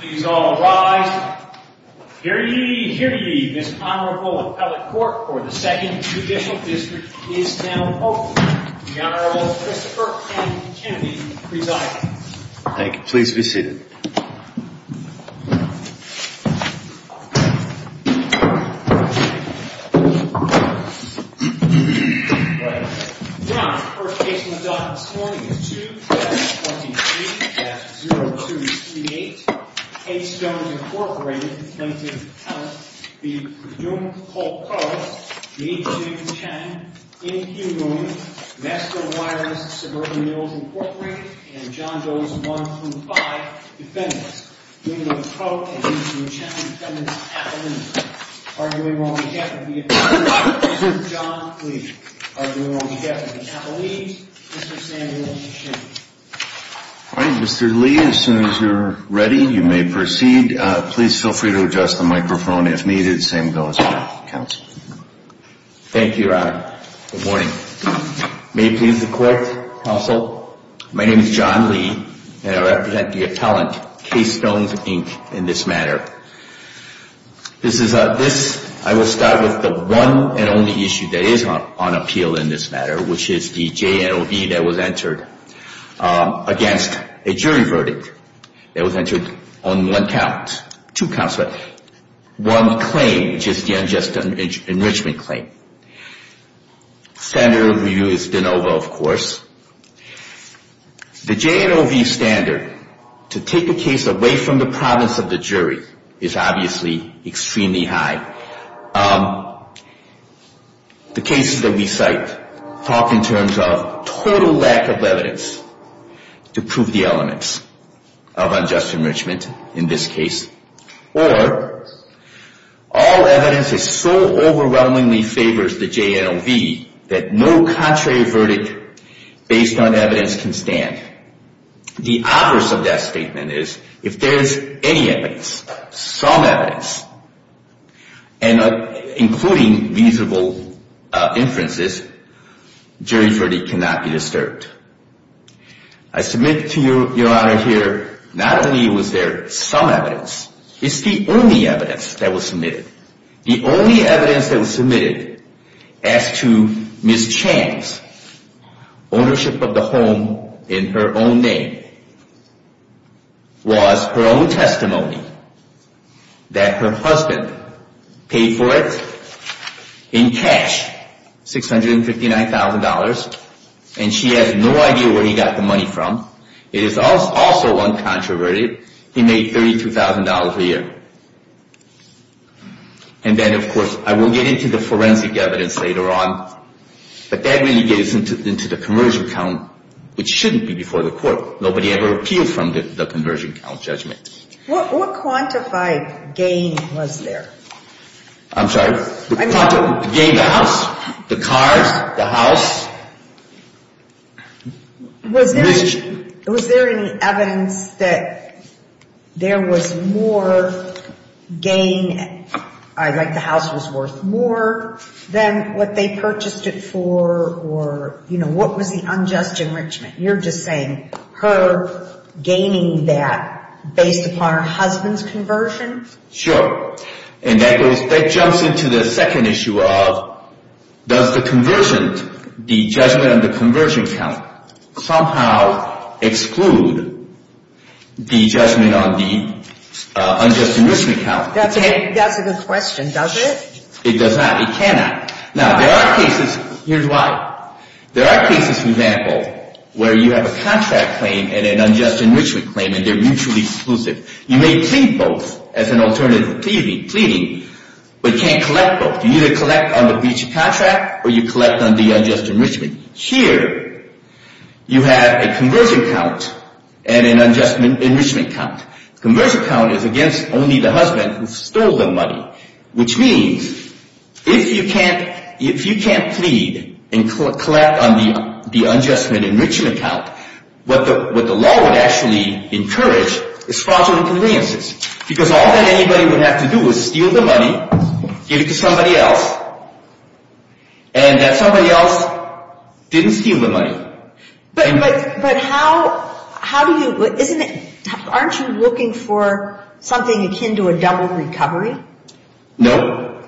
Please all rise. Hear ye, hear ye, this Honorable Appellate Court for the 2nd Judicial District is now open. The Honorable Christopher M. Kennedy presiding. Thank you. Please be seated. Your Honor, the first case we'll adopt this morning is 2-7-23-0238. K Stones, Inc., plaintiff's counsel, v. Prudhume, Polk Coast, v. H. J. Chen, N. Q. Newman, Vestal Wireless, Suburban Meals, Inc., and John Doe's 1-2-5, defendants, William Polk and Mr. Chen, defendants' appellants. Arguing on behalf of the attorney, Mr. John Lee. Arguing on behalf of the appellees, Mr. Samuel Sheehan. All right, Mr. Lee, as soon as you're ready, you may proceed. Please feel free to adjust the microphone if needed. Same goes for counsel. Thank you, Your Honor. Good morning. May it please the Court, counsel, my name is John Lee, and I represent the appellant, K Stones, Inc., in this matter. This is a, this, I will start with the one and only issue that is on appeal in this matter, which is the JNOV that was entered against a jury verdict. It was entered on one count, two counts, but one claim, which is the unjust enrichment claim. Standard of review is de novo, of course. The JNOV standard to take a case away from the province of the jury is obviously extremely high. The cases that we cite talk in terms of total lack of evidence to prove the elements of unjust enrichment in this case. Or, all evidence is so overwhelmingly favors the JNOV that no contrary verdict based on evidence can stand. The opposite of that statement is, if there is any evidence, some evidence, including reasonable inferences, jury verdict cannot be disturbed. I submit to you, Your Honor, here, not only was there some evidence, it's the only evidence that was submitted. The only evidence that was submitted as to Ms. Chang's ownership of the home in her own name was her own testimony that her husband paid for it in cash, $659,000, and she has no idea where he got the money from. It is also uncontroverted. He made $32,000 a year. And then, of course, I will get into the forensic evidence later on, but that really gets into the conversion count, which shouldn't be before the court. Nobody ever appealed from the conversion count judgment. What quantified gain was there? I'm sorry. The gain of the house, the cars, the house? Was there any evidence that there was more gain, like the house was worth more than what they purchased it for? Or, you know, what was the unjust enrichment? You're just saying her gaining that based upon her husband's conversion? Sure. And that jumps into the second issue of does the conversion, the judgment on the conversion count, somehow exclude the judgment on the unjust enrichment count? That's a good question. Does it? It does not. It cannot. Now, there are cases. Here's why. There are cases, for example, where you have a contract claim and an unjust enrichment claim, and they're mutually exclusive. You may plead both as an alternative to pleading, but you can't collect both. You either collect on the breach of contract or you collect on the unjust enrichment. Here, you have a conversion count and an unjust enrichment count. The conversion count is against only the husband who stole the money, which means if you can't plead and collect on the unjust enrichment count, what the law would actually encourage is fraudulent conveyances because all that anybody would have to do is steal the money, give it to somebody else, and that somebody else didn't steal the money. But how do you – aren't you looking for something akin to a double recovery? No.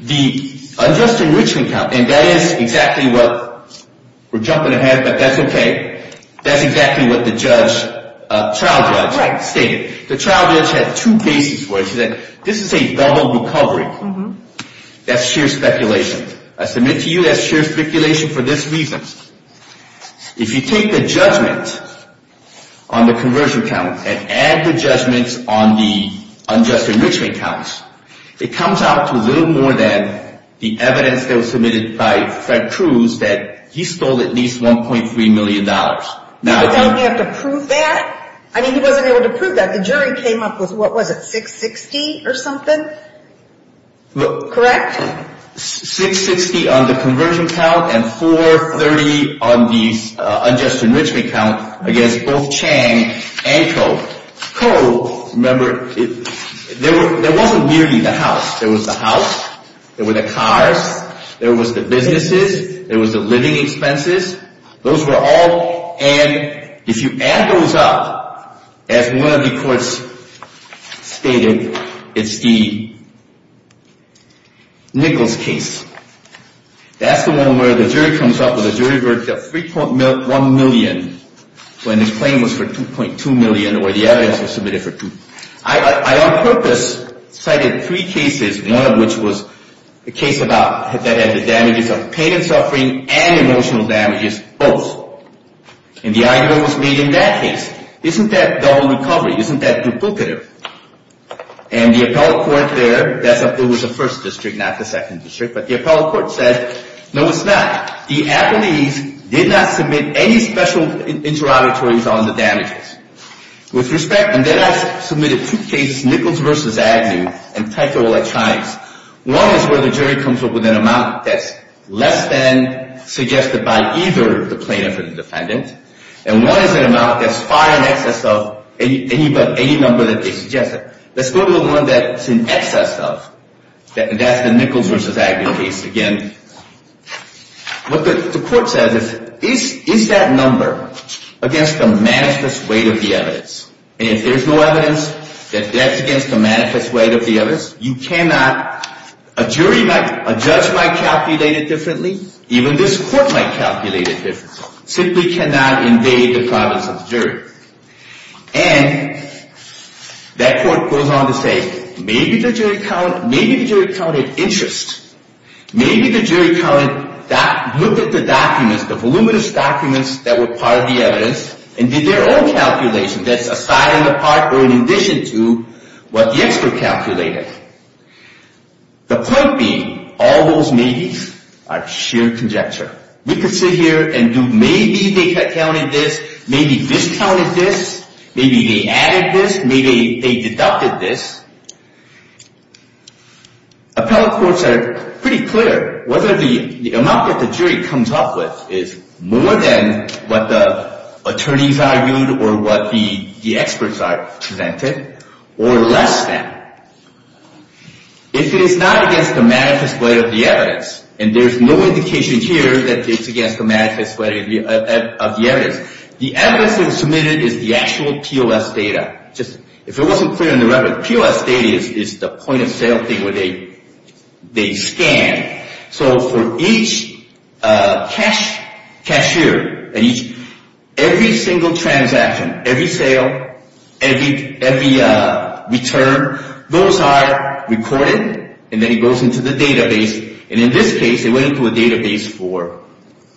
The unjust enrichment count, and that is exactly what – we're jumping ahead, but that's okay. That's exactly what the child judge stated. The child judge had two cases where she said this is a double recovery. That's sheer speculation. I submit to you that's sheer speculation for this reason. If you take the judgment on the conversion count and add the judgments on the unjust enrichment counts, it comes out to a little more than the evidence that was submitted by Fred Cruz that he stole at least $1.3 million. Don't you have to prove that? I mean, he wasn't able to prove that. The jury came up with, what was it, 660 or something? Correct? 660 on the conversion count and 430 on the unjust enrichment count against both Chang and Koh. Koh, remember, there wasn't merely the house. There was the house. There were the cars. There was the businesses. There was the living expenses. Those were all, and if you add those up, as one of the courts stated, it's the Nichols case. That's the one where the jury comes up with a jury verdict of 3.1 million when his claim was for 2.2 million or the evidence was submitted for 2. I on purpose cited three cases, one of which was a case that had the damages of pain and suffering and emotional damages, both. And the argument was made in that case. Isn't that double recovery? Isn't that duplicative? And the appellate court there, that's up there with the first district, not the second district, but the appellate court said, no, it's not. The appellees did not submit any special interrogatories on the damages. With respect, and then I submitted two cases, Nichols v. Agnew, and Ticola, Chimes. One is where the jury comes up with an amount that's less than suggested by either the plaintiff or the defendant. And one is an amount that's far in excess of any number that they suggested. Let's go to the one that's in excess of. That's the Nichols v. Agnew case again. What the court says is, is that number against the manifest weight of the evidence? And if there's no evidence that that's against the manifest weight of the evidence, you cannot, a jury might, a judge might calculate it differently. Even this court might calculate it differently. Simply cannot invade the province of the jury. And that court goes on to say, maybe the jury counted interest. Maybe the jury counted, looked at the documents, the voluminous documents that were part of the evidence, and did their own calculation that's a side and a part or in addition to what the expert calculated. The point being, all those maybes are sheer conjecture. We could sit here and do maybe they counted this, maybe this counted this, maybe they added this, maybe they deducted this. Appellate courts are pretty clear. Whether the amount that the jury comes up with is more than what the attorneys argued or what the experts presented, or less than. If it is not against the manifest weight of the evidence, and there's no indication here that it's against the manifest weight of the evidence, the evidence that was submitted is the actual POS data. If it wasn't clear in the record, POS data is the point of sale thing where they scan. So for each cashier, every single transaction, every sale, every return, those are recorded and then it goes into the database. And in this case, it went into a database for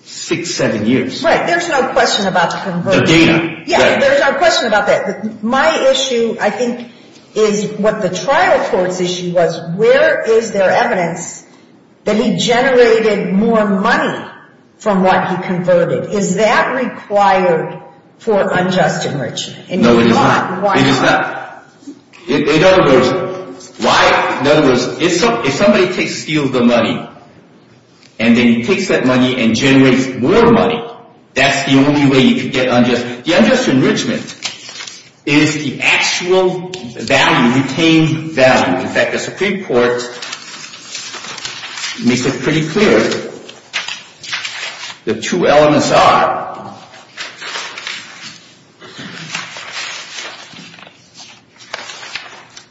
six, seven years. Right, there's no question about the conversion. The data. Yeah, there's no question about that. My issue, I think, is what the trial court's issue was, where is there evidence that he generated more money from what he converted? Is that required for unjust enrichment? No, it is not. Why not? It is not. In other words, if somebody takes a steal of the money, and then he takes that money and generates more money, that's the only way you can get unjust. The unjust enrichment is the actual value, retained value. In fact, the Supreme Court makes it pretty clear. The two elements are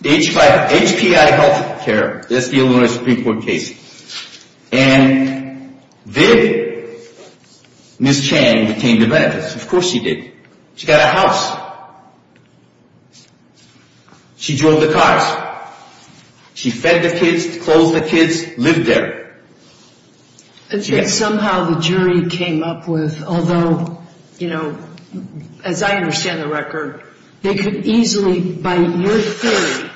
HPI health care. That's the Illinois Supreme Court case. And did Ms. Chang retain the benefits? Yes, of course she did. She got a house. She drove the cars. She fed the kids, clothed the kids, lived there. And yet somehow the jury came up with, although, you know, as I understand the record, they could easily, by your theory,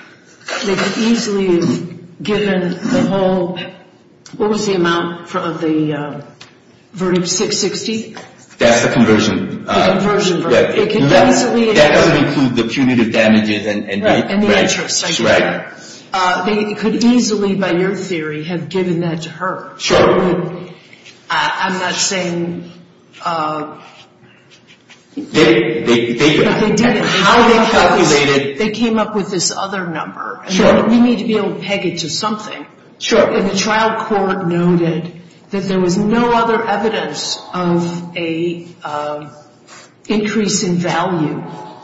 they could easily have given the whole, what was the amount of the verdict, 660? That's the conversion. The conversion verdict. That doesn't include the punitive damages and the interest. They could easily, by your theory, have given that to her. Sure. I'm not saying. They did. How they calculated. They came up with this other number. Sure. You need to be able to peg it to something. Sure. And the trial court noted that there was no other evidence of an increase in value.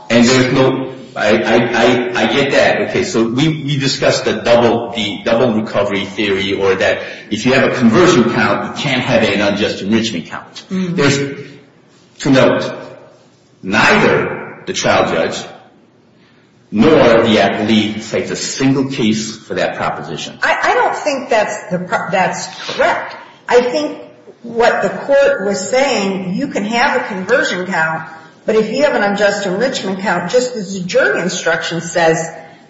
And there's no. I get that. Okay. So we discussed the double recovery theory or that if you have a conversion count, you can't have an unjust enrichment count. There's two notes. Neither the trial judge nor the appellee takes a single case for that proposition. I don't think that's correct. I think what the court was saying, you can have a conversion count, but if you have an unjust enrichment count, just as the jury instruction says,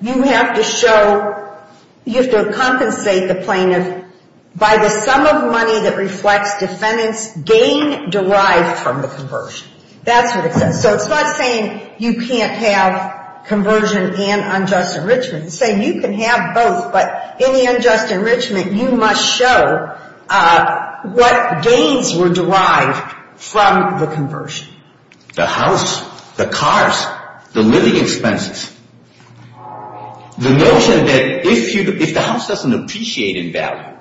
you have to show, you have to compensate the plaintiff by the sum of money that reflects defendant's gain derived from the conversion. That's what it says. So it's not saying you can't have conversion and unjust enrichment. It's saying you can have both, but any unjust enrichment, you must show what gains were derived from the conversion. The house, the cars, the living expenses. The notion that if the house doesn't appreciate in value.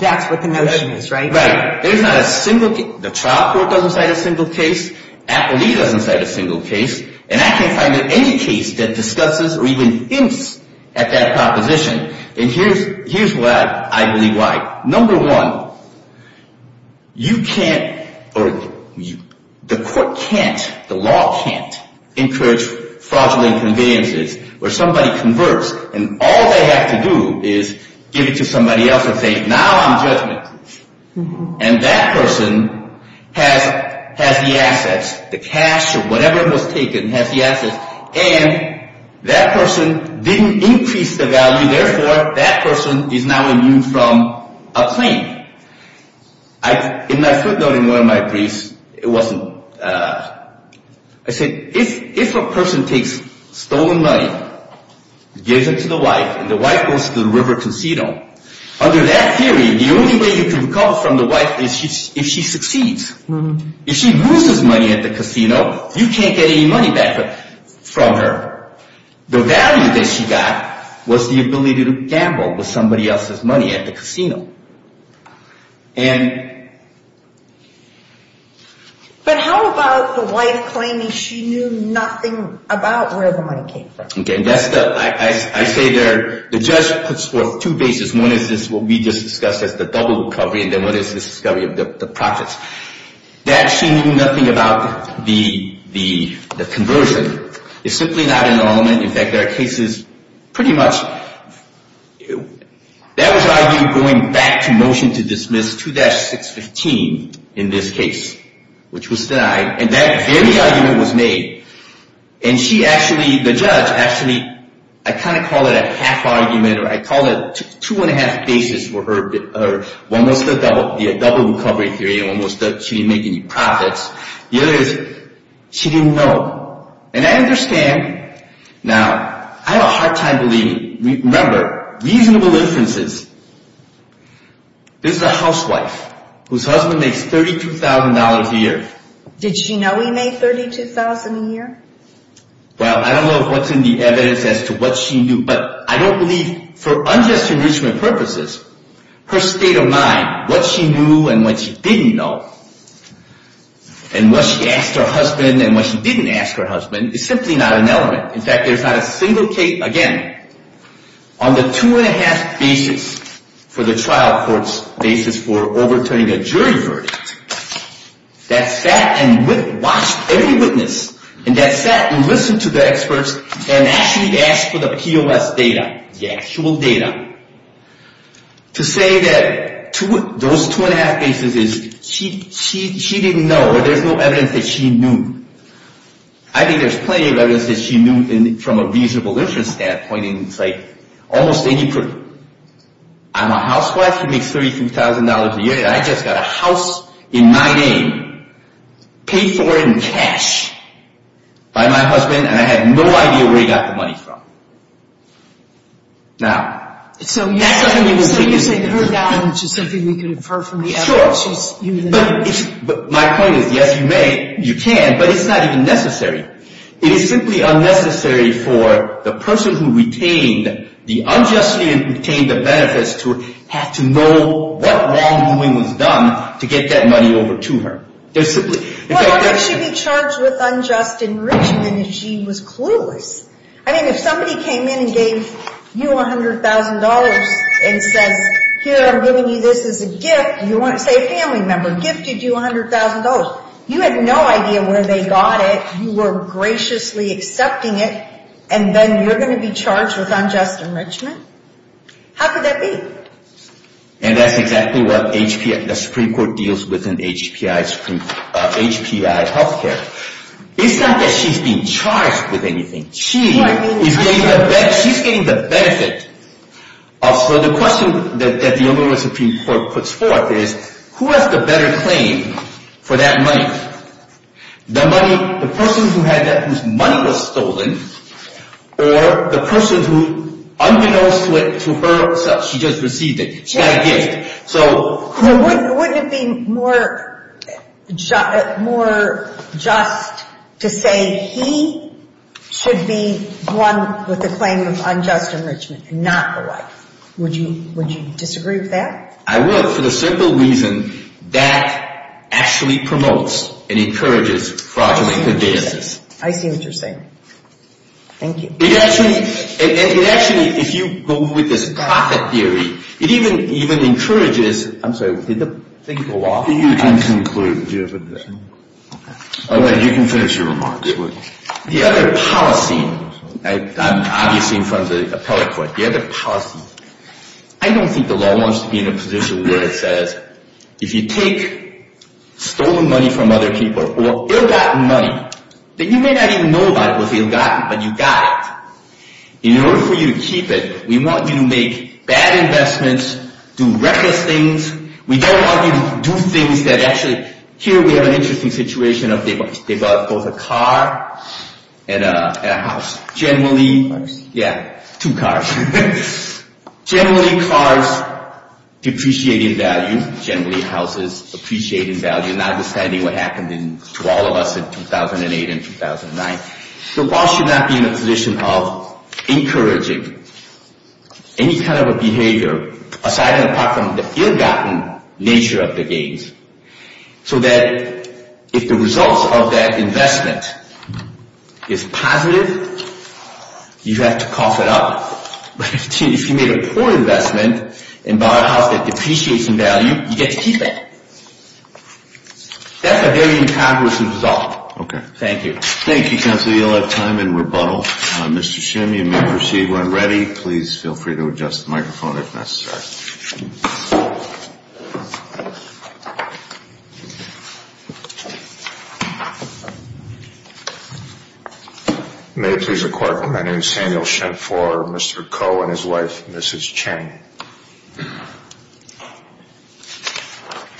That's what the notion is, right? Right. There's not a single case. The trial court doesn't cite a single case. Appellee doesn't cite a single case. And I can't find any case that discusses or even hints at that proposition. And here's why I believe why. Number one, you can't or the court can't, the law can't encourage fraudulent conveniences where somebody converts and all they have to do is give it to somebody else and say, now I'm judgmental. And that person has the assets. The cash or whatever was taken has the assets. And that person didn't increase the value. Therefore, that person is now immune from a claim. In my footnote in one of my briefs, it wasn't. I said, if a person takes stolen money, gives it to the wife, and the wife goes to the river casino. Under that theory, the only way you can recover from the wife is if she succeeds. If she loses money at the casino, you can't get any money back from her. The value that she got was the ability to gamble with somebody else's money at the casino. And... But how about the wife claiming she knew nothing about where the money came from? I say the judge puts forth two bases. One is what we just discussed as the double recovery, and then one is the discovery of the profits. That she knew nothing about the conversion is simply not an element. In fact, there are cases pretty much... That was argued going back to motion to dismiss 2-615 in this case, which was denied. And that very argument was made. And she actually, the judge, actually... I kind of call it a half argument, or I call it two and a half bases for her. One was the double recovery theory, and one was that she didn't make any profits. The other is, she didn't know. And I understand. Now, I have a hard time believing. Remember, reasonable inferences. This is a housewife whose husband makes $32,000 a year. Did she know he made $32,000 a year? Well, I don't know what's in the evidence as to what she knew. But I don't believe, for unjust enrichment purposes, her state of mind, what she knew and what she didn't know, and what she asked her husband and what she didn't ask her husband, is simply not an element. In fact, there's not a single case... Again, on the two and a half bases for the trial court's basis for overturning a jury verdict, that sat and watched every witness, and that sat and listened to the experts, and actually asked for the POS data, the actual data, to say that those two and a half bases is... She didn't know, or there's no evidence that she knew. I think there's plenty of evidence that she knew from a reasonable inference standpoint, and it's like almost any proof. I'm a housewife who makes $32,000 a year, and I just got a house in my name, paid for in cash, by my husband, and I had no idea where he got the money from. Now... So you're saying that her knowledge is something we could infer from the evidence? But my point is, yes, you can, but it's not even necessary. It is simply unnecessary for the person who retained, the unjustly retained the benefits to have to know what wrongdoing was done to get that money over to her. Well, I think she'd be charged with unjust enrichment if she was clueless. I mean, if somebody came in and gave you $100,000, and says, here, I'm giving you this as a gift, say a family member gifted you $100,000, you had no idea where they got it, you were graciously accepting it, and then you're going to be charged with unjust enrichment? How could that be? And that's exactly what the Supreme Court deals with in HPI health care. It's not that she's being charged with anything. She's getting the benefit. So the question that the Illinois Supreme Court puts forth is, who has the better claim for that money? The person who had that whose money was stolen, or the person who, unbeknownst to her, she just received it. She got a gift. Wouldn't it be more just to say he should be the one with the claim of unjust enrichment, and not the wife? Would you disagree with that? I would, for the simple reason that actually promotes and encourages fraudulent advances. I see what you're saying. Thank you. It actually, if you go with this profit theory, it even encourages, I'm sorry, did the thing go off? You can conclude. Okay, you can finish your remarks. The other policy, I'm obviously in front of the appellate court, but the other policy, I don't think the law wants to be in a position where it says, if you take stolen money from other people, or ill-gotten money that you may not even know about it was ill-gotten, but you got it, in order for you to keep it, we want you to make bad investments, do reckless things. We don't want you to do things that actually, here we have an interesting situation of they bought both a car and a house. Generally, yeah, two cars. Generally, cars depreciating value. Generally, houses appreciating value. Not understanding what happened to all of us in 2008 and 2009. The law should not be in a position of encouraging any kind of a behavior, aside and apart from the ill-gotten nature of the gains, so that if the results of that investment is positive, you have to cough it up. But if you made a poor investment and bought a house that depreciates in value, you get to keep it. That's a very incongruous result. Okay. Thank you. Thank you, counsel. You'll have time in rebuttal. Mr. Shim, you may proceed when ready. Please feel free to adjust the microphone if necessary. May it please the Court. My name is Samuel Shim for Mr. Koh and his wife, Mrs. Chang.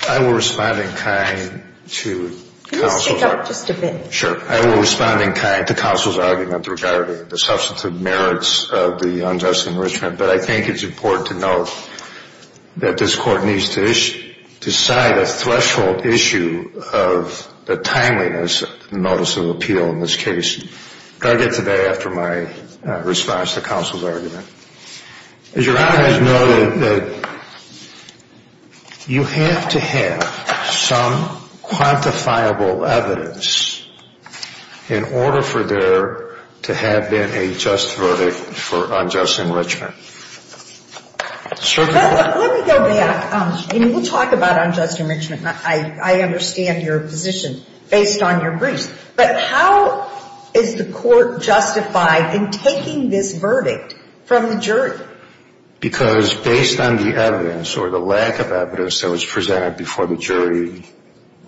I will respond in kind to counsel's argument regarding the substantive merits of the unjust enrichment, but I think it's important to note that this Court needs to decide a three-step process on the threshold issue of the timeliness notice of appeal in this case. I'll get to that after my response to counsel's argument. As your Honor has noted, you have to have some quantifiable evidence in order for there to have been a just verdict for unjust enrichment. Let me go back. We'll talk about unjust enrichment. I understand your position based on your briefs. But how is the Court justified in taking this verdict from the jury? Because based on the evidence or the lack of evidence that was presented before the jury,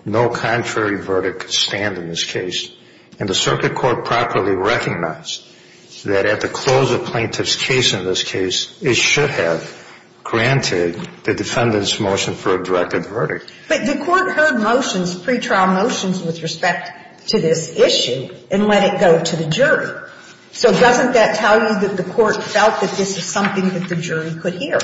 no contrary verdict could stand in this case. And the Circuit Court properly recognized that at the close of plaintiff's case in this case, it should have granted the defendant's motion for a directed verdict. But the Court heard motions, pretrial motions with respect to this issue and let it go to the jury. So doesn't that tell you that the Court felt that this is something that the jury could hear?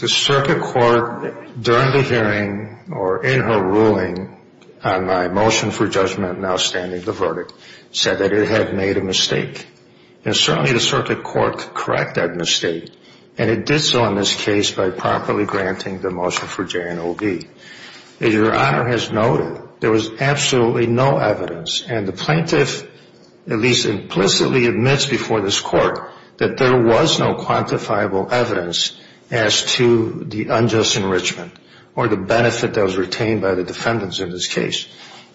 The Circuit Court, during the hearing or in her ruling on my motion for judgment in outstanding the verdict, said that it had made a mistake. And certainly the Circuit Court could correct that mistake, and it did so in this case by properly granting the motion for J&OB. As your Honor has noted, there was absolutely no evidence, and the plaintiff at least implicitly admits before this Court that there was no quantifiable evidence as to the unjust enrichment or the benefit that was retained by the defendants in this case.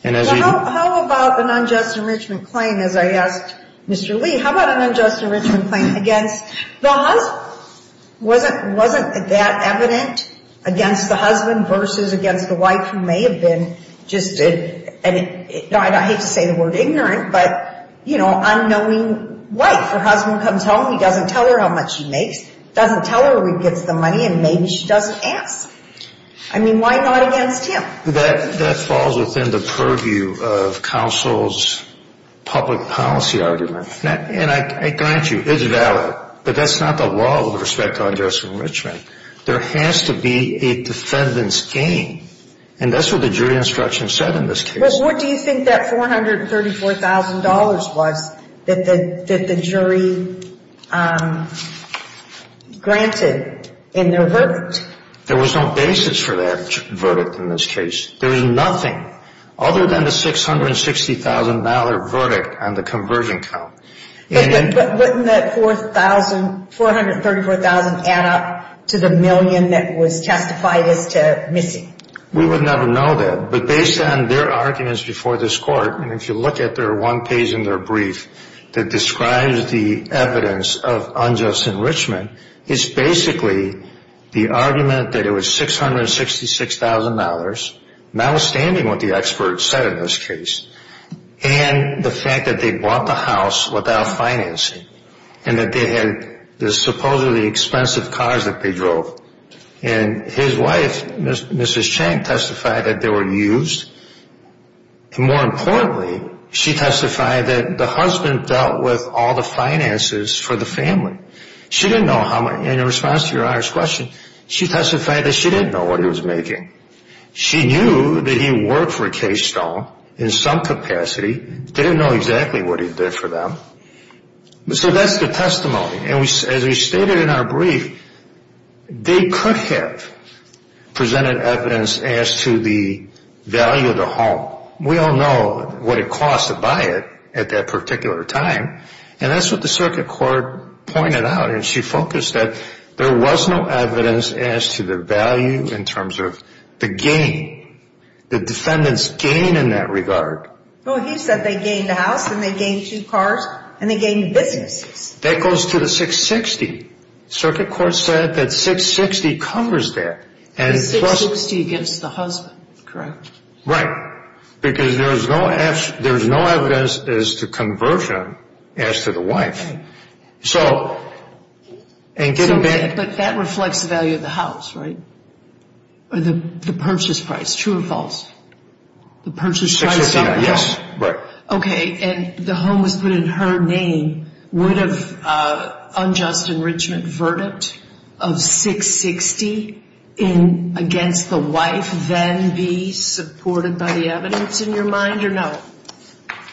How about an unjust enrichment claim, as I asked Mr. Lee? How about an unjust enrichment claim against the husband? Wasn't that evident against the husband versus against the wife who may have been just a — I hate to say the word ignorant, but, you know, unknowing wife. Her husband comes home, he doesn't tell her how much he makes, doesn't tell her where he gets the money, and maybe she doesn't ask. I mean, why not against him? That falls within the purview of counsel's public policy argument. And I grant you, it's valid. But that's not the law with respect to unjust enrichment. There has to be a defendant's gain. And that's what the jury instruction said in this case. Bruce, what do you think that $434,000 was that the jury granted in their verdict? There was no basis for that verdict in this case. There was nothing other than the $660,000 verdict on the conversion count. But wouldn't that $434,000 add up to the million that was testified as to missing? We would never know that. But based on their arguments before this court, and if you look at their one page in their brief that describes the evidence of unjust enrichment, it's basically the argument that it was $666,000, notwithstanding what the experts said in this case, and the fact that they bought the house without financing and that they had the supposedly expensive cars that they drove. And his wife, Mrs. Chang, testified that they were used. More importantly, she testified that the husband dealt with all the finances for the family. She didn't know how much, and in response to your honor's question, she testified that she didn't know what he was making. She knew that he worked for Case Stone in some capacity, didn't know exactly what he did for them. So that's the testimony. And as we stated in our brief, they could have presented evidence as to the value of the home. We all know what it cost to buy it at that particular time. And that's what the circuit court pointed out, and she focused that there was no evidence as to the value in terms of the gain, the defendant's gain in that regard. Well, he said they gained the house and they gained two cars and they gained the businesses. That goes to the $660,000. Circuit court said that $660,000 covers that. The $660,000 against the husband, correct? Right, because there's no evidence as to conversion as to the wife. But that reflects the value of the house, right? Or the purchase price, true or false? $660,000, yes. Okay, and the home was put in her name. Would an unjust enrichment verdict of $660,000 against the wife then be supported by the evidence in your mind or no?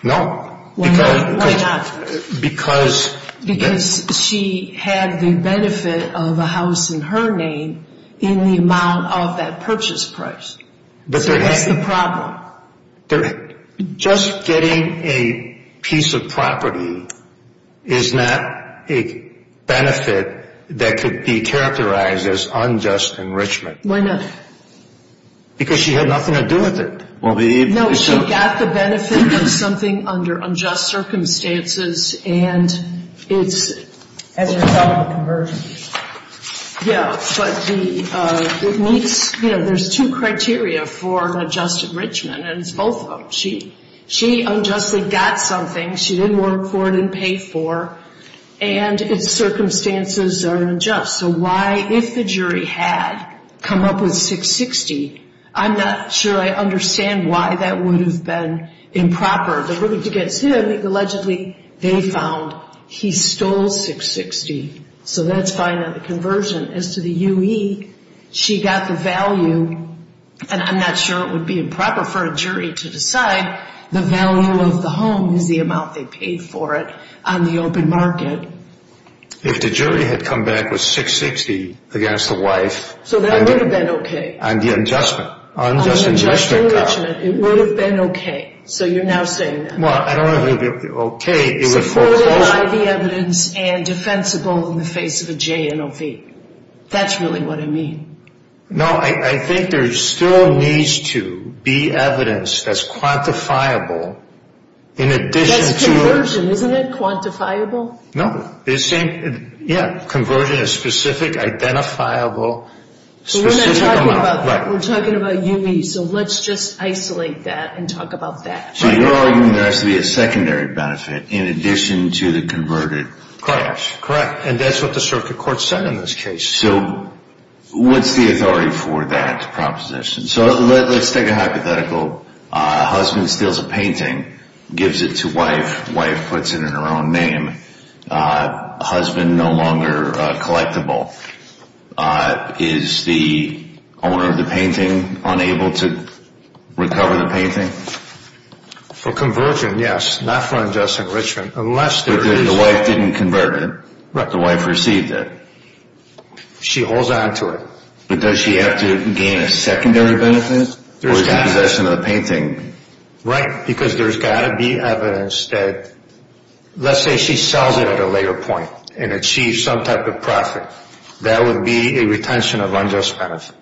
No. Why not? Because she had the benefit of a house in her name in the amount of that purchase price. So that's the problem. Just getting a piece of property is not a benefit that could be characterized as unjust enrichment. Why not? Because she had nothing to do with it. No, she got the benefit of something under unjust circumstances and it's as a result of conversion. Yeah, but there's two criteria for an unjust enrichment, and it's both of them. She unjustly got something. She didn't work for it, didn't pay for, and its circumstances are unjust. So why, if the jury had come up with $660,000, I'm not sure I understand why that would have been improper. The verdict against him, allegedly, they found he stole $660,000. So that's fine on the conversion. As to the UE, she got the value, and I'm not sure it would be improper for a jury to decide, the value of the home is the amount they paid for it on the open market. If the jury had come back with $660,000 against the wife. So that would have been okay. On the adjustment. On the adjustment, it would have been okay. So you're now saying. Well, I don't know if it would have been okay. Supported by the evidence and defensible in the face of a JNOV. That's really what I mean. No, I think there still needs to be evidence that's quantifiable in addition to. That's conversion, isn't it? Quantifiable? No. Yeah, conversion is specific, identifiable. So we're not talking about that. We're talking about UE. So let's just isolate that and talk about that. So you're arguing there has to be a secondary benefit in addition to the converted. Correct. And that's what the circuit court said in this case. So what's the authority for that proposition? So let's take a hypothetical. Husband steals a painting, gives it to wife. Wife puts it in her own name. Husband no longer collectible. Is the owner of the painting unable to recover the painting? For conversion, yes. Not for unjust enrichment. Unless there is. The wife didn't convert it. The wife received it. She holds on to it. But does she have to gain a secondary benefit or is it possession of the painting? Right, because there's got to be evidence that, let's say she sells it at a later point and achieves some type of profit. That would be a retention of unjust benefit.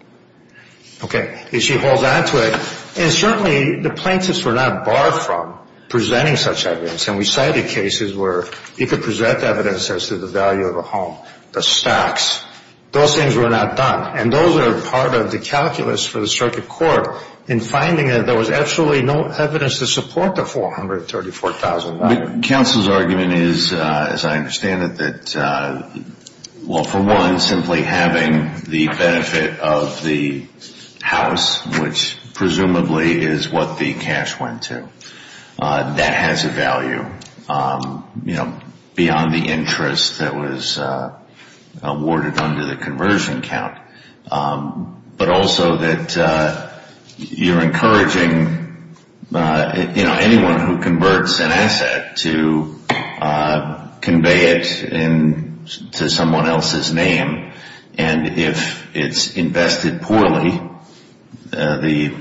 Okay. And she holds on to it. And certainly the plaintiffs were not barred from presenting such evidence. And we cited cases where you could present evidence as to the value of a home, the stocks. Those things were not done. And those are part of the calculus for the circuit court in finding that there was absolutely no evidence to support the $434,000. Counsel's argument is, as I understand it, that, well, for one, simply having the benefit of the house, which presumably is what the cash went to, that has a value beyond the interest that was awarded under the conversion count. But also that you're encouraging, you know, anyone who converts an asset to convey it to someone else's name. And if it's invested poorly, the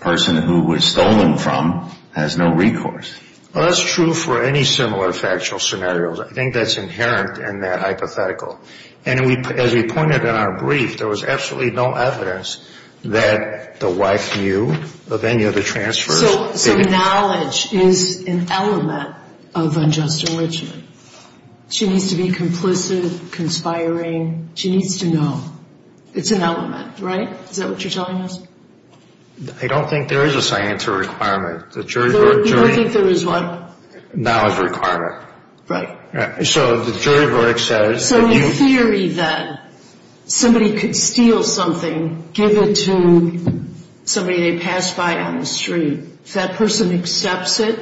person who it was stolen from has no recourse. Well, that's true for any similar factual scenarios. I think that's inherent in that hypothetical. And as we pointed in our brief, there was absolutely no evidence that the wife knew of any of the transfers. So knowledge is an element of unjust enrichment. She needs to be complicit, conspiring. She needs to know. It's an element, right? Is that what you're telling us? I don't think there is a science requirement. You don't think there is what? Knowledge requirement. Right. So the jury verdict says that you... So the theory that somebody could steal something, give it to somebody they passed by on the street, if that person accepts it,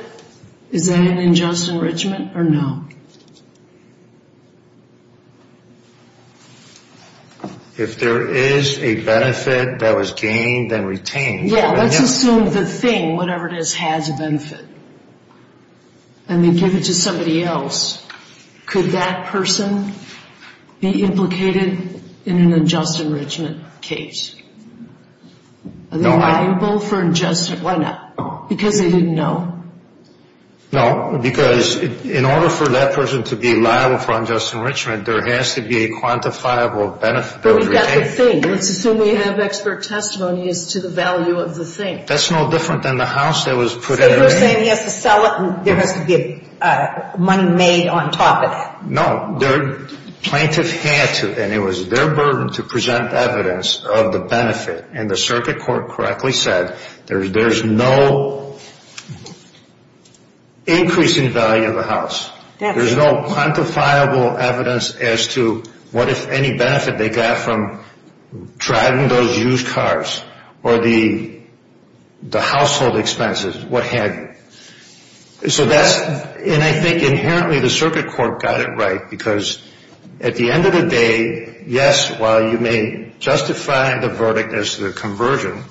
is that an unjust enrichment or no? If there is a benefit that was gained and retained... Yeah, let's assume the thing, whatever it is, has a benefit. And they give it to somebody else. Could that person be implicated in an unjust enrichment case? Are they liable for unjust enrichment? Why not? Because they didn't know? No, because in order for that person to be liable for unjust enrichment, there has to be a quantifiable benefit that was retained. But we've got the thing. Let's assume we have expert testimony as to the value of the thing. That's no different than the house that was put in. So you're saying he has to sell it and there has to be money made on top of it? No. The plaintiff had to, and it was their burden to present evidence of the benefit. And the circuit court correctly said there's no increasing value of the house. There's no quantifiable evidence as to what if any benefit they got from driving those used cars or the household expenses, what had. So that's, and I think inherently the circuit court got it right because at the end of the day, yes, while you may justify the verdict as the conversion,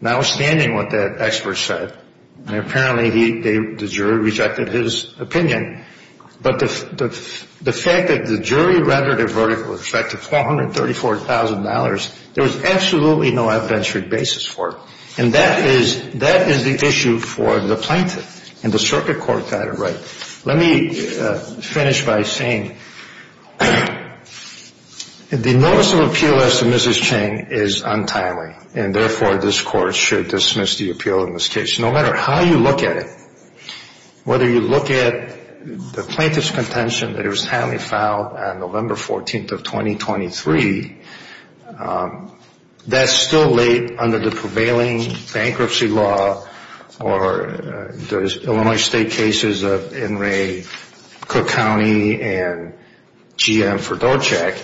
notwithstanding what that expert said, apparently the jury rejected his opinion. But the fact that the jury rendered a verdict with respect to $434,000, there was absolutely no adventurous basis for it. And that is the issue for the plaintiff, and the circuit court got it right. Let me finish by saying the notice of appeal as to Mrs. Chang is untimely, and therefore this court should dismiss the appeal in this case. No matter how you look at it, whether you look at the plaintiff's contention that it was timely filed on November 14th of 2023, that's still late under the prevailing bankruptcy law or the Illinois state cases of Enray, Cook County, and GM for Dorchak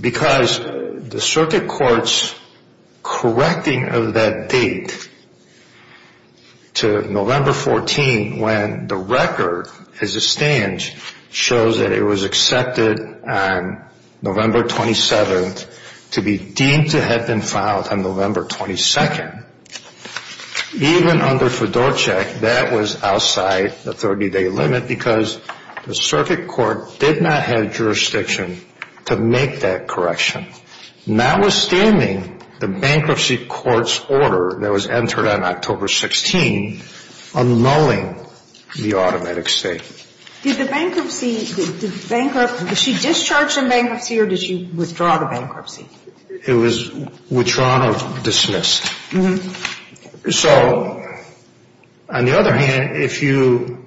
because the circuit court's correcting of that date to November 14th when the record as it stands shows that it was accepted on November 27th to be deemed to have been filed on November 22nd. Even under for Dorchak, that was outside the 30-day limit because the circuit court did not have jurisdiction to make that correction. Notwithstanding the bankruptcy court's order that was entered on October 16th annulling the automatic state. Did the bankruptcy, did she discharge the bankruptcy or did she withdraw the bankruptcy? It was withdrawn or dismissed. So on the other hand, if you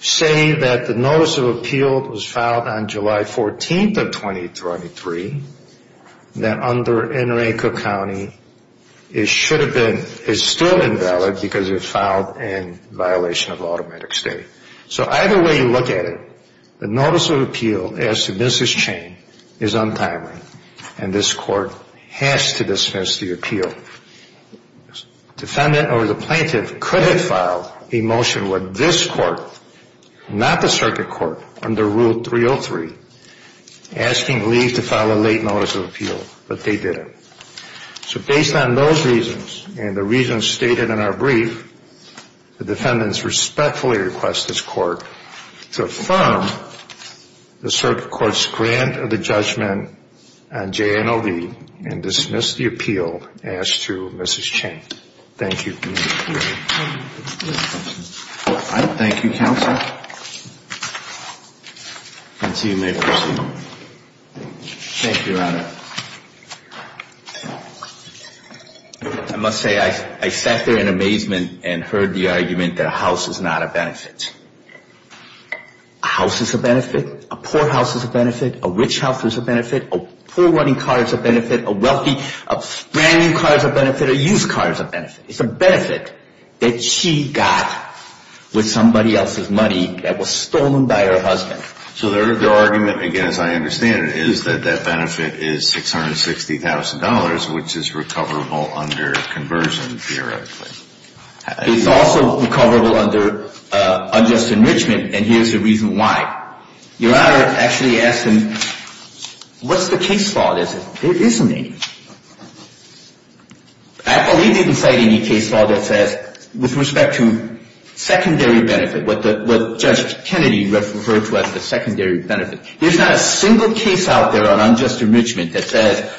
say that the notice of appeal was filed on July 14th of 2023, then under Enray, Cook County, it should have been, it's still invalid because it was filed in violation of automatic state. So either way you look at it, the notice of appeal as to Mrs. Chain is untimely and this court has to dismiss the appeal. Defendant or the plaintiff could have filed a motion with this court, not the circuit court, under Rule 303, asking Lee to file a late notice of appeal, but they didn't. So based on those reasons and the reasons stated in our brief, the defendants respectfully request this court to affirm the circuit court's grant of the judgment on JNLV and dismiss the appeal as to Mrs. Chain. Thank you. Thank you, counsel. Thank you, Your Honor. I must say I sat there in amazement and heard the argument that a house is not a benefit. A house is a benefit, a poor house is a benefit, a rich house is a benefit, a poor running car is a benefit, a wealthy, a brand new car is a benefit, a used car is a benefit. It's a benefit that she got with somebody else's money that was stolen by her husband. So their argument, again, as I understand it, is that that benefit is $660,000, which is recoverable under conversion, theoretically. It's also recoverable under unjust enrichment, and here's the reason why. Your Honor actually asked him, what's the case law? The case law says there isn't any. I believe they didn't cite any case law that says with respect to secondary benefit, what Judge Kennedy referred to as the secondary benefit. There's not a single case out there on unjust enrichment that says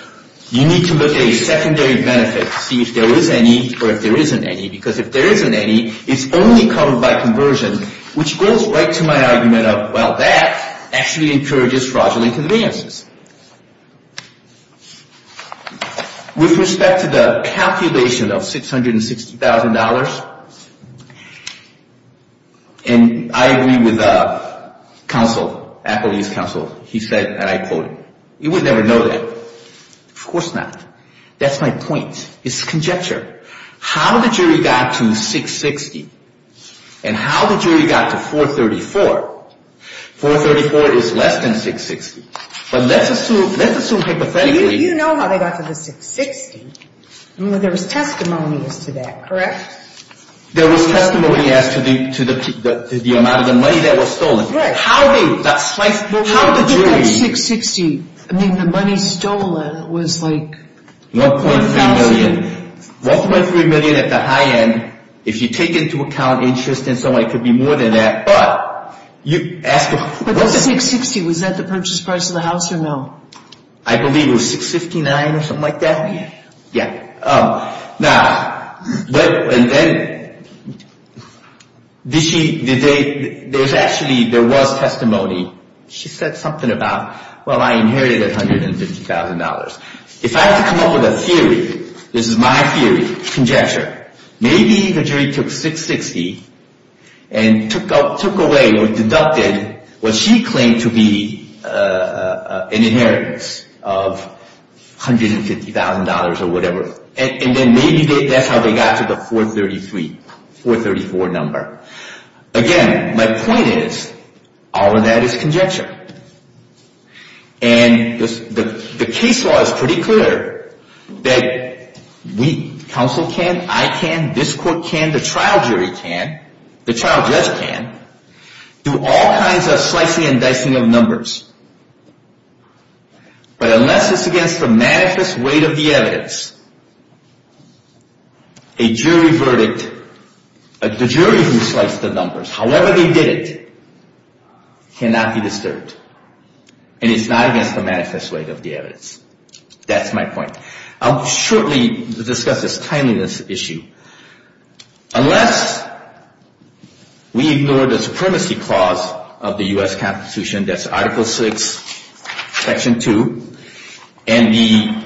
you need to look at your secondary benefit to see if there is any or if there isn't any, because if there isn't any, it's only covered by conversion, which goes right to my argument of, well, that actually encourages fraudulent advances. With respect to the calculation of $660,000, and I agree with counsel, Applebee's counsel, he said, and I quote him, you would never know that. Of course not. That's my point. It's conjecture. How the jury got to $660,000 and how the jury got to $434,000. $434,000 is less than $660,000, but let's assume hypothetically. You know how they got to the $660,000. There was testimony as to that, correct? There was testimony as to the amount of the money that was stolen. Right. How did that $660,000, I mean the money stolen, was like $1,000,000? $1.3 million at the high end, if you take into account interest and so on, it could be more than that. But you ask, what's the… But the $660,000, was that the purchase price of the house or no? I believe it was $659,000 or something like that. Yeah. Yeah. Now, but, and then, did she, did they, there's actually, there was testimony. She said something about, well, I inherited $150,000. If I have to come up with a theory, this is my theory, conjecture. Maybe the jury took $660,000 and took away or deducted what she claimed to be an inheritance of $150,000 or whatever. And then maybe that's how they got to the 433, 434 number. Again, my point is, all of that is conjecture. And the case law is pretty clear that we, counsel can, I can, this court can, the trial jury can, the trial judge can, do all kinds of slicing and dicing of numbers. But unless it's against the manifest weight of the evidence, a jury verdict, the jury who sliced the numbers, however they did it, cannot be disturbed. And it's not against the manifest weight of the evidence. That's my point. I'll shortly discuss this timeliness issue. Unless we ignore the supremacy clause of the U.S. Constitution, that's Article VI, Section 2, and the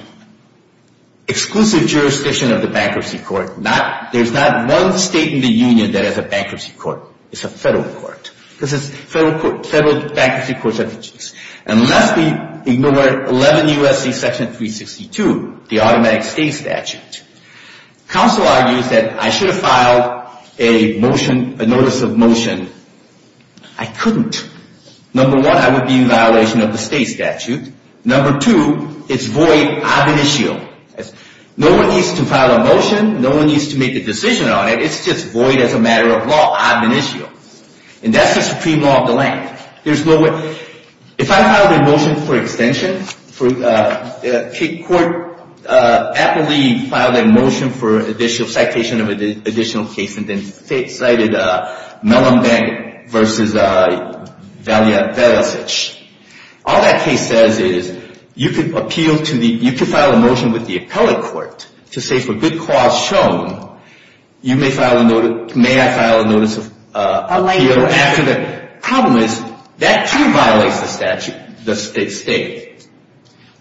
exclusive jurisdiction of the bankruptcy court, there's not one state in the union that has a bankruptcy court. It's a federal court. This is federal bankruptcy court. Unless we ignore 11 U.S.C. Section 362, the automatic stay statute, counsel argues that I should have filed a motion, a notice of motion. I couldn't. Number one, I would be in violation of the state statute. Number two, it's void ad initio. No one needs to file a motion. No one needs to make a decision on it. It's just void as a matter of law, ad initio. And that's the supreme law of the land. If I filed a motion for extension, court aptly filed a motion for additional citation of additional case, and then cited Mellon Bank versus Valiant-Velasich. All that case says is you could appeal to the, you could file a motion with the appellate court to say for good cause shown, you may file a notice, may I file a notice of appeal after that. Problem is, that too violates the statute, the state.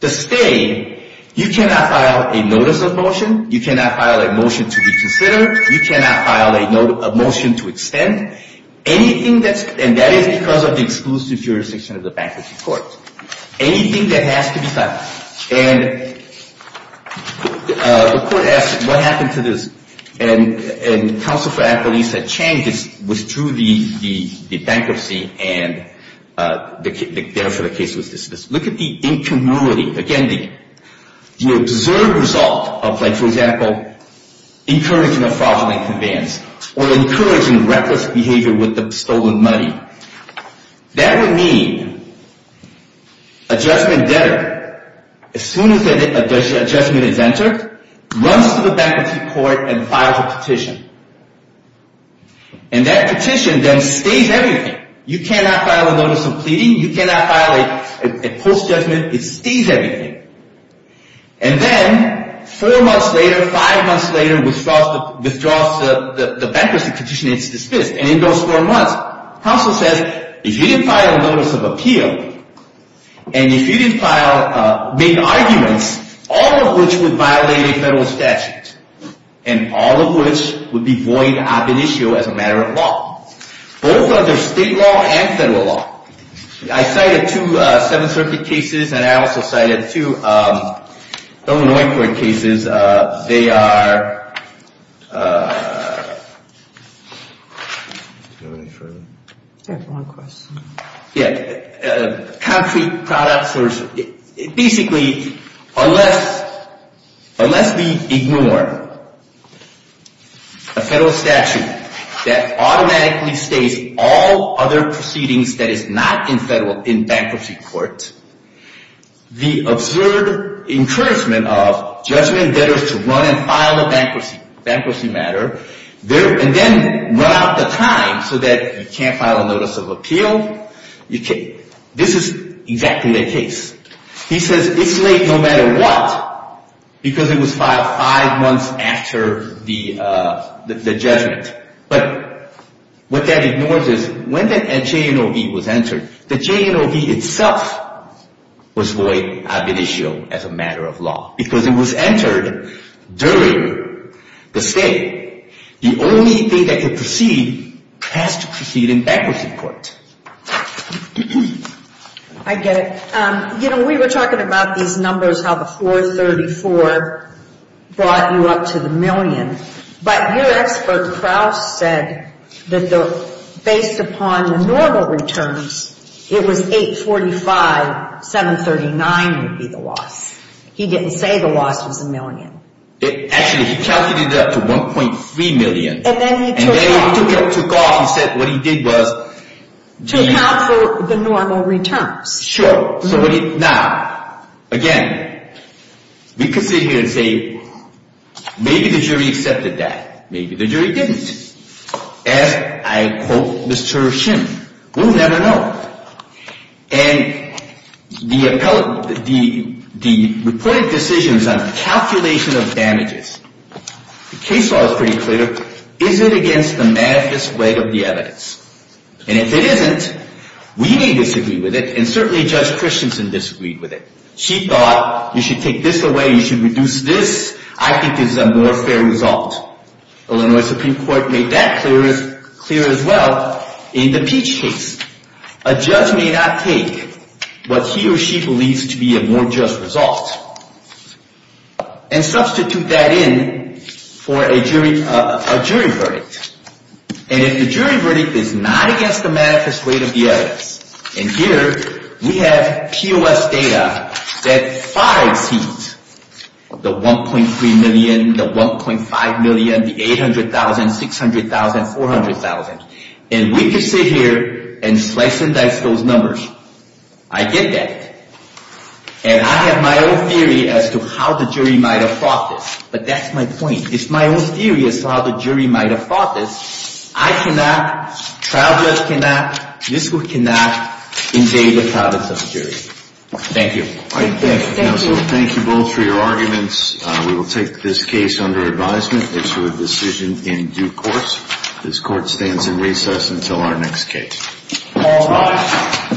The state, you cannot file a notice of motion. You cannot file a motion to reconsider. You cannot file a motion to extend. Anything that's, and that is because of the exclusive jurisdiction of the bankruptcy court. Anything that has to be filed. And the court asks, what happened to this? And counsel for appellate said Chang withdrew the bankruptcy, and therefore the case was dismissed. Look at the incumbency. Again, the observed result of like, for example, encouraging a fraudulent advance, or encouraging reckless behavior with the stolen money. That would mean a judgment debtor, as soon as a judgment is entered, runs to the bankruptcy court and files a petition. And that petition then stays everything. You cannot file a notice of pleading. You cannot file a post-judgment. It stays everything. And then four months later, five months later, withdraws the bankruptcy petition. It's dismissed. And in those four months, counsel says, if you didn't file a notice of appeal, and if you didn't file, make arguments, all of which would violate a federal statute. And all of which would be void ad initio as a matter of law. Both under state law and federal law. I cited two Seventh Circuit cases, and I also cited two Illinois court cases. They are concrete products. Basically, unless we ignore a federal statute that automatically stays all other proceedings that is not in bankruptcy court, the absurd encouragement of judgment debtors to run and file a bankruptcy matter, and then run out of time so that you can't file a notice of appeal, this is exactly the case. He says it's late no matter what because it was filed five months after the judgment. But what that ignores is when the JNOB was entered, the JNOB itself was void ad initio as a matter of law. Because it was entered during the stay. The only thing that could proceed has to proceed in bankruptcy court. I get it. You know, we were talking about these numbers, how the 434 brought you up to the million. But your expert, Krauss, said that based upon the normal returns, it was 845, 739 would be the loss. He didn't say the loss was a million. Actually, he calculated it up to 1.3 million. And then he took off. And then he took off. He said what he did was... To account for the normal returns. Sure. Now, again, we could sit here and say maybe the jury accepted that. Maybe the jury didn't. As I quote Mr. Shim, we'll never know. And the reported decisions on calculation of damages, the case law is pretty clear. Is it against the manifest way of the evidence? And if it isn't, we may disagree with it. And certainly Judge Christensen disagreed with it. She thought you should take this away. You should reduce this. I think this is a more fair result. Illinois Supreme Court made that clear as well in the Peach case. A judge may not take what he or she believes to be a more just result and substitute that in for a jury verdict. And if the jury verdict is not against the manifest way of the evidence, and here we have POS data that far exceeds the 1.3 million, the 1.5 million, the 800,000, 600,000, 400,000. And we could sit here and slice and dice those numbers. I get that. And I have my own theory as to how the jury might have thought this. But that's my point. It's my own theory as to how the jury might have thought this. I cannot, trial judge cannot, this court cannot invade the province of the jury. Thank you. Thank you, counsel. Thank you both for your arguments. We will take this case under advisement into a decision in due course. This court stands in recess until our next case. All rise.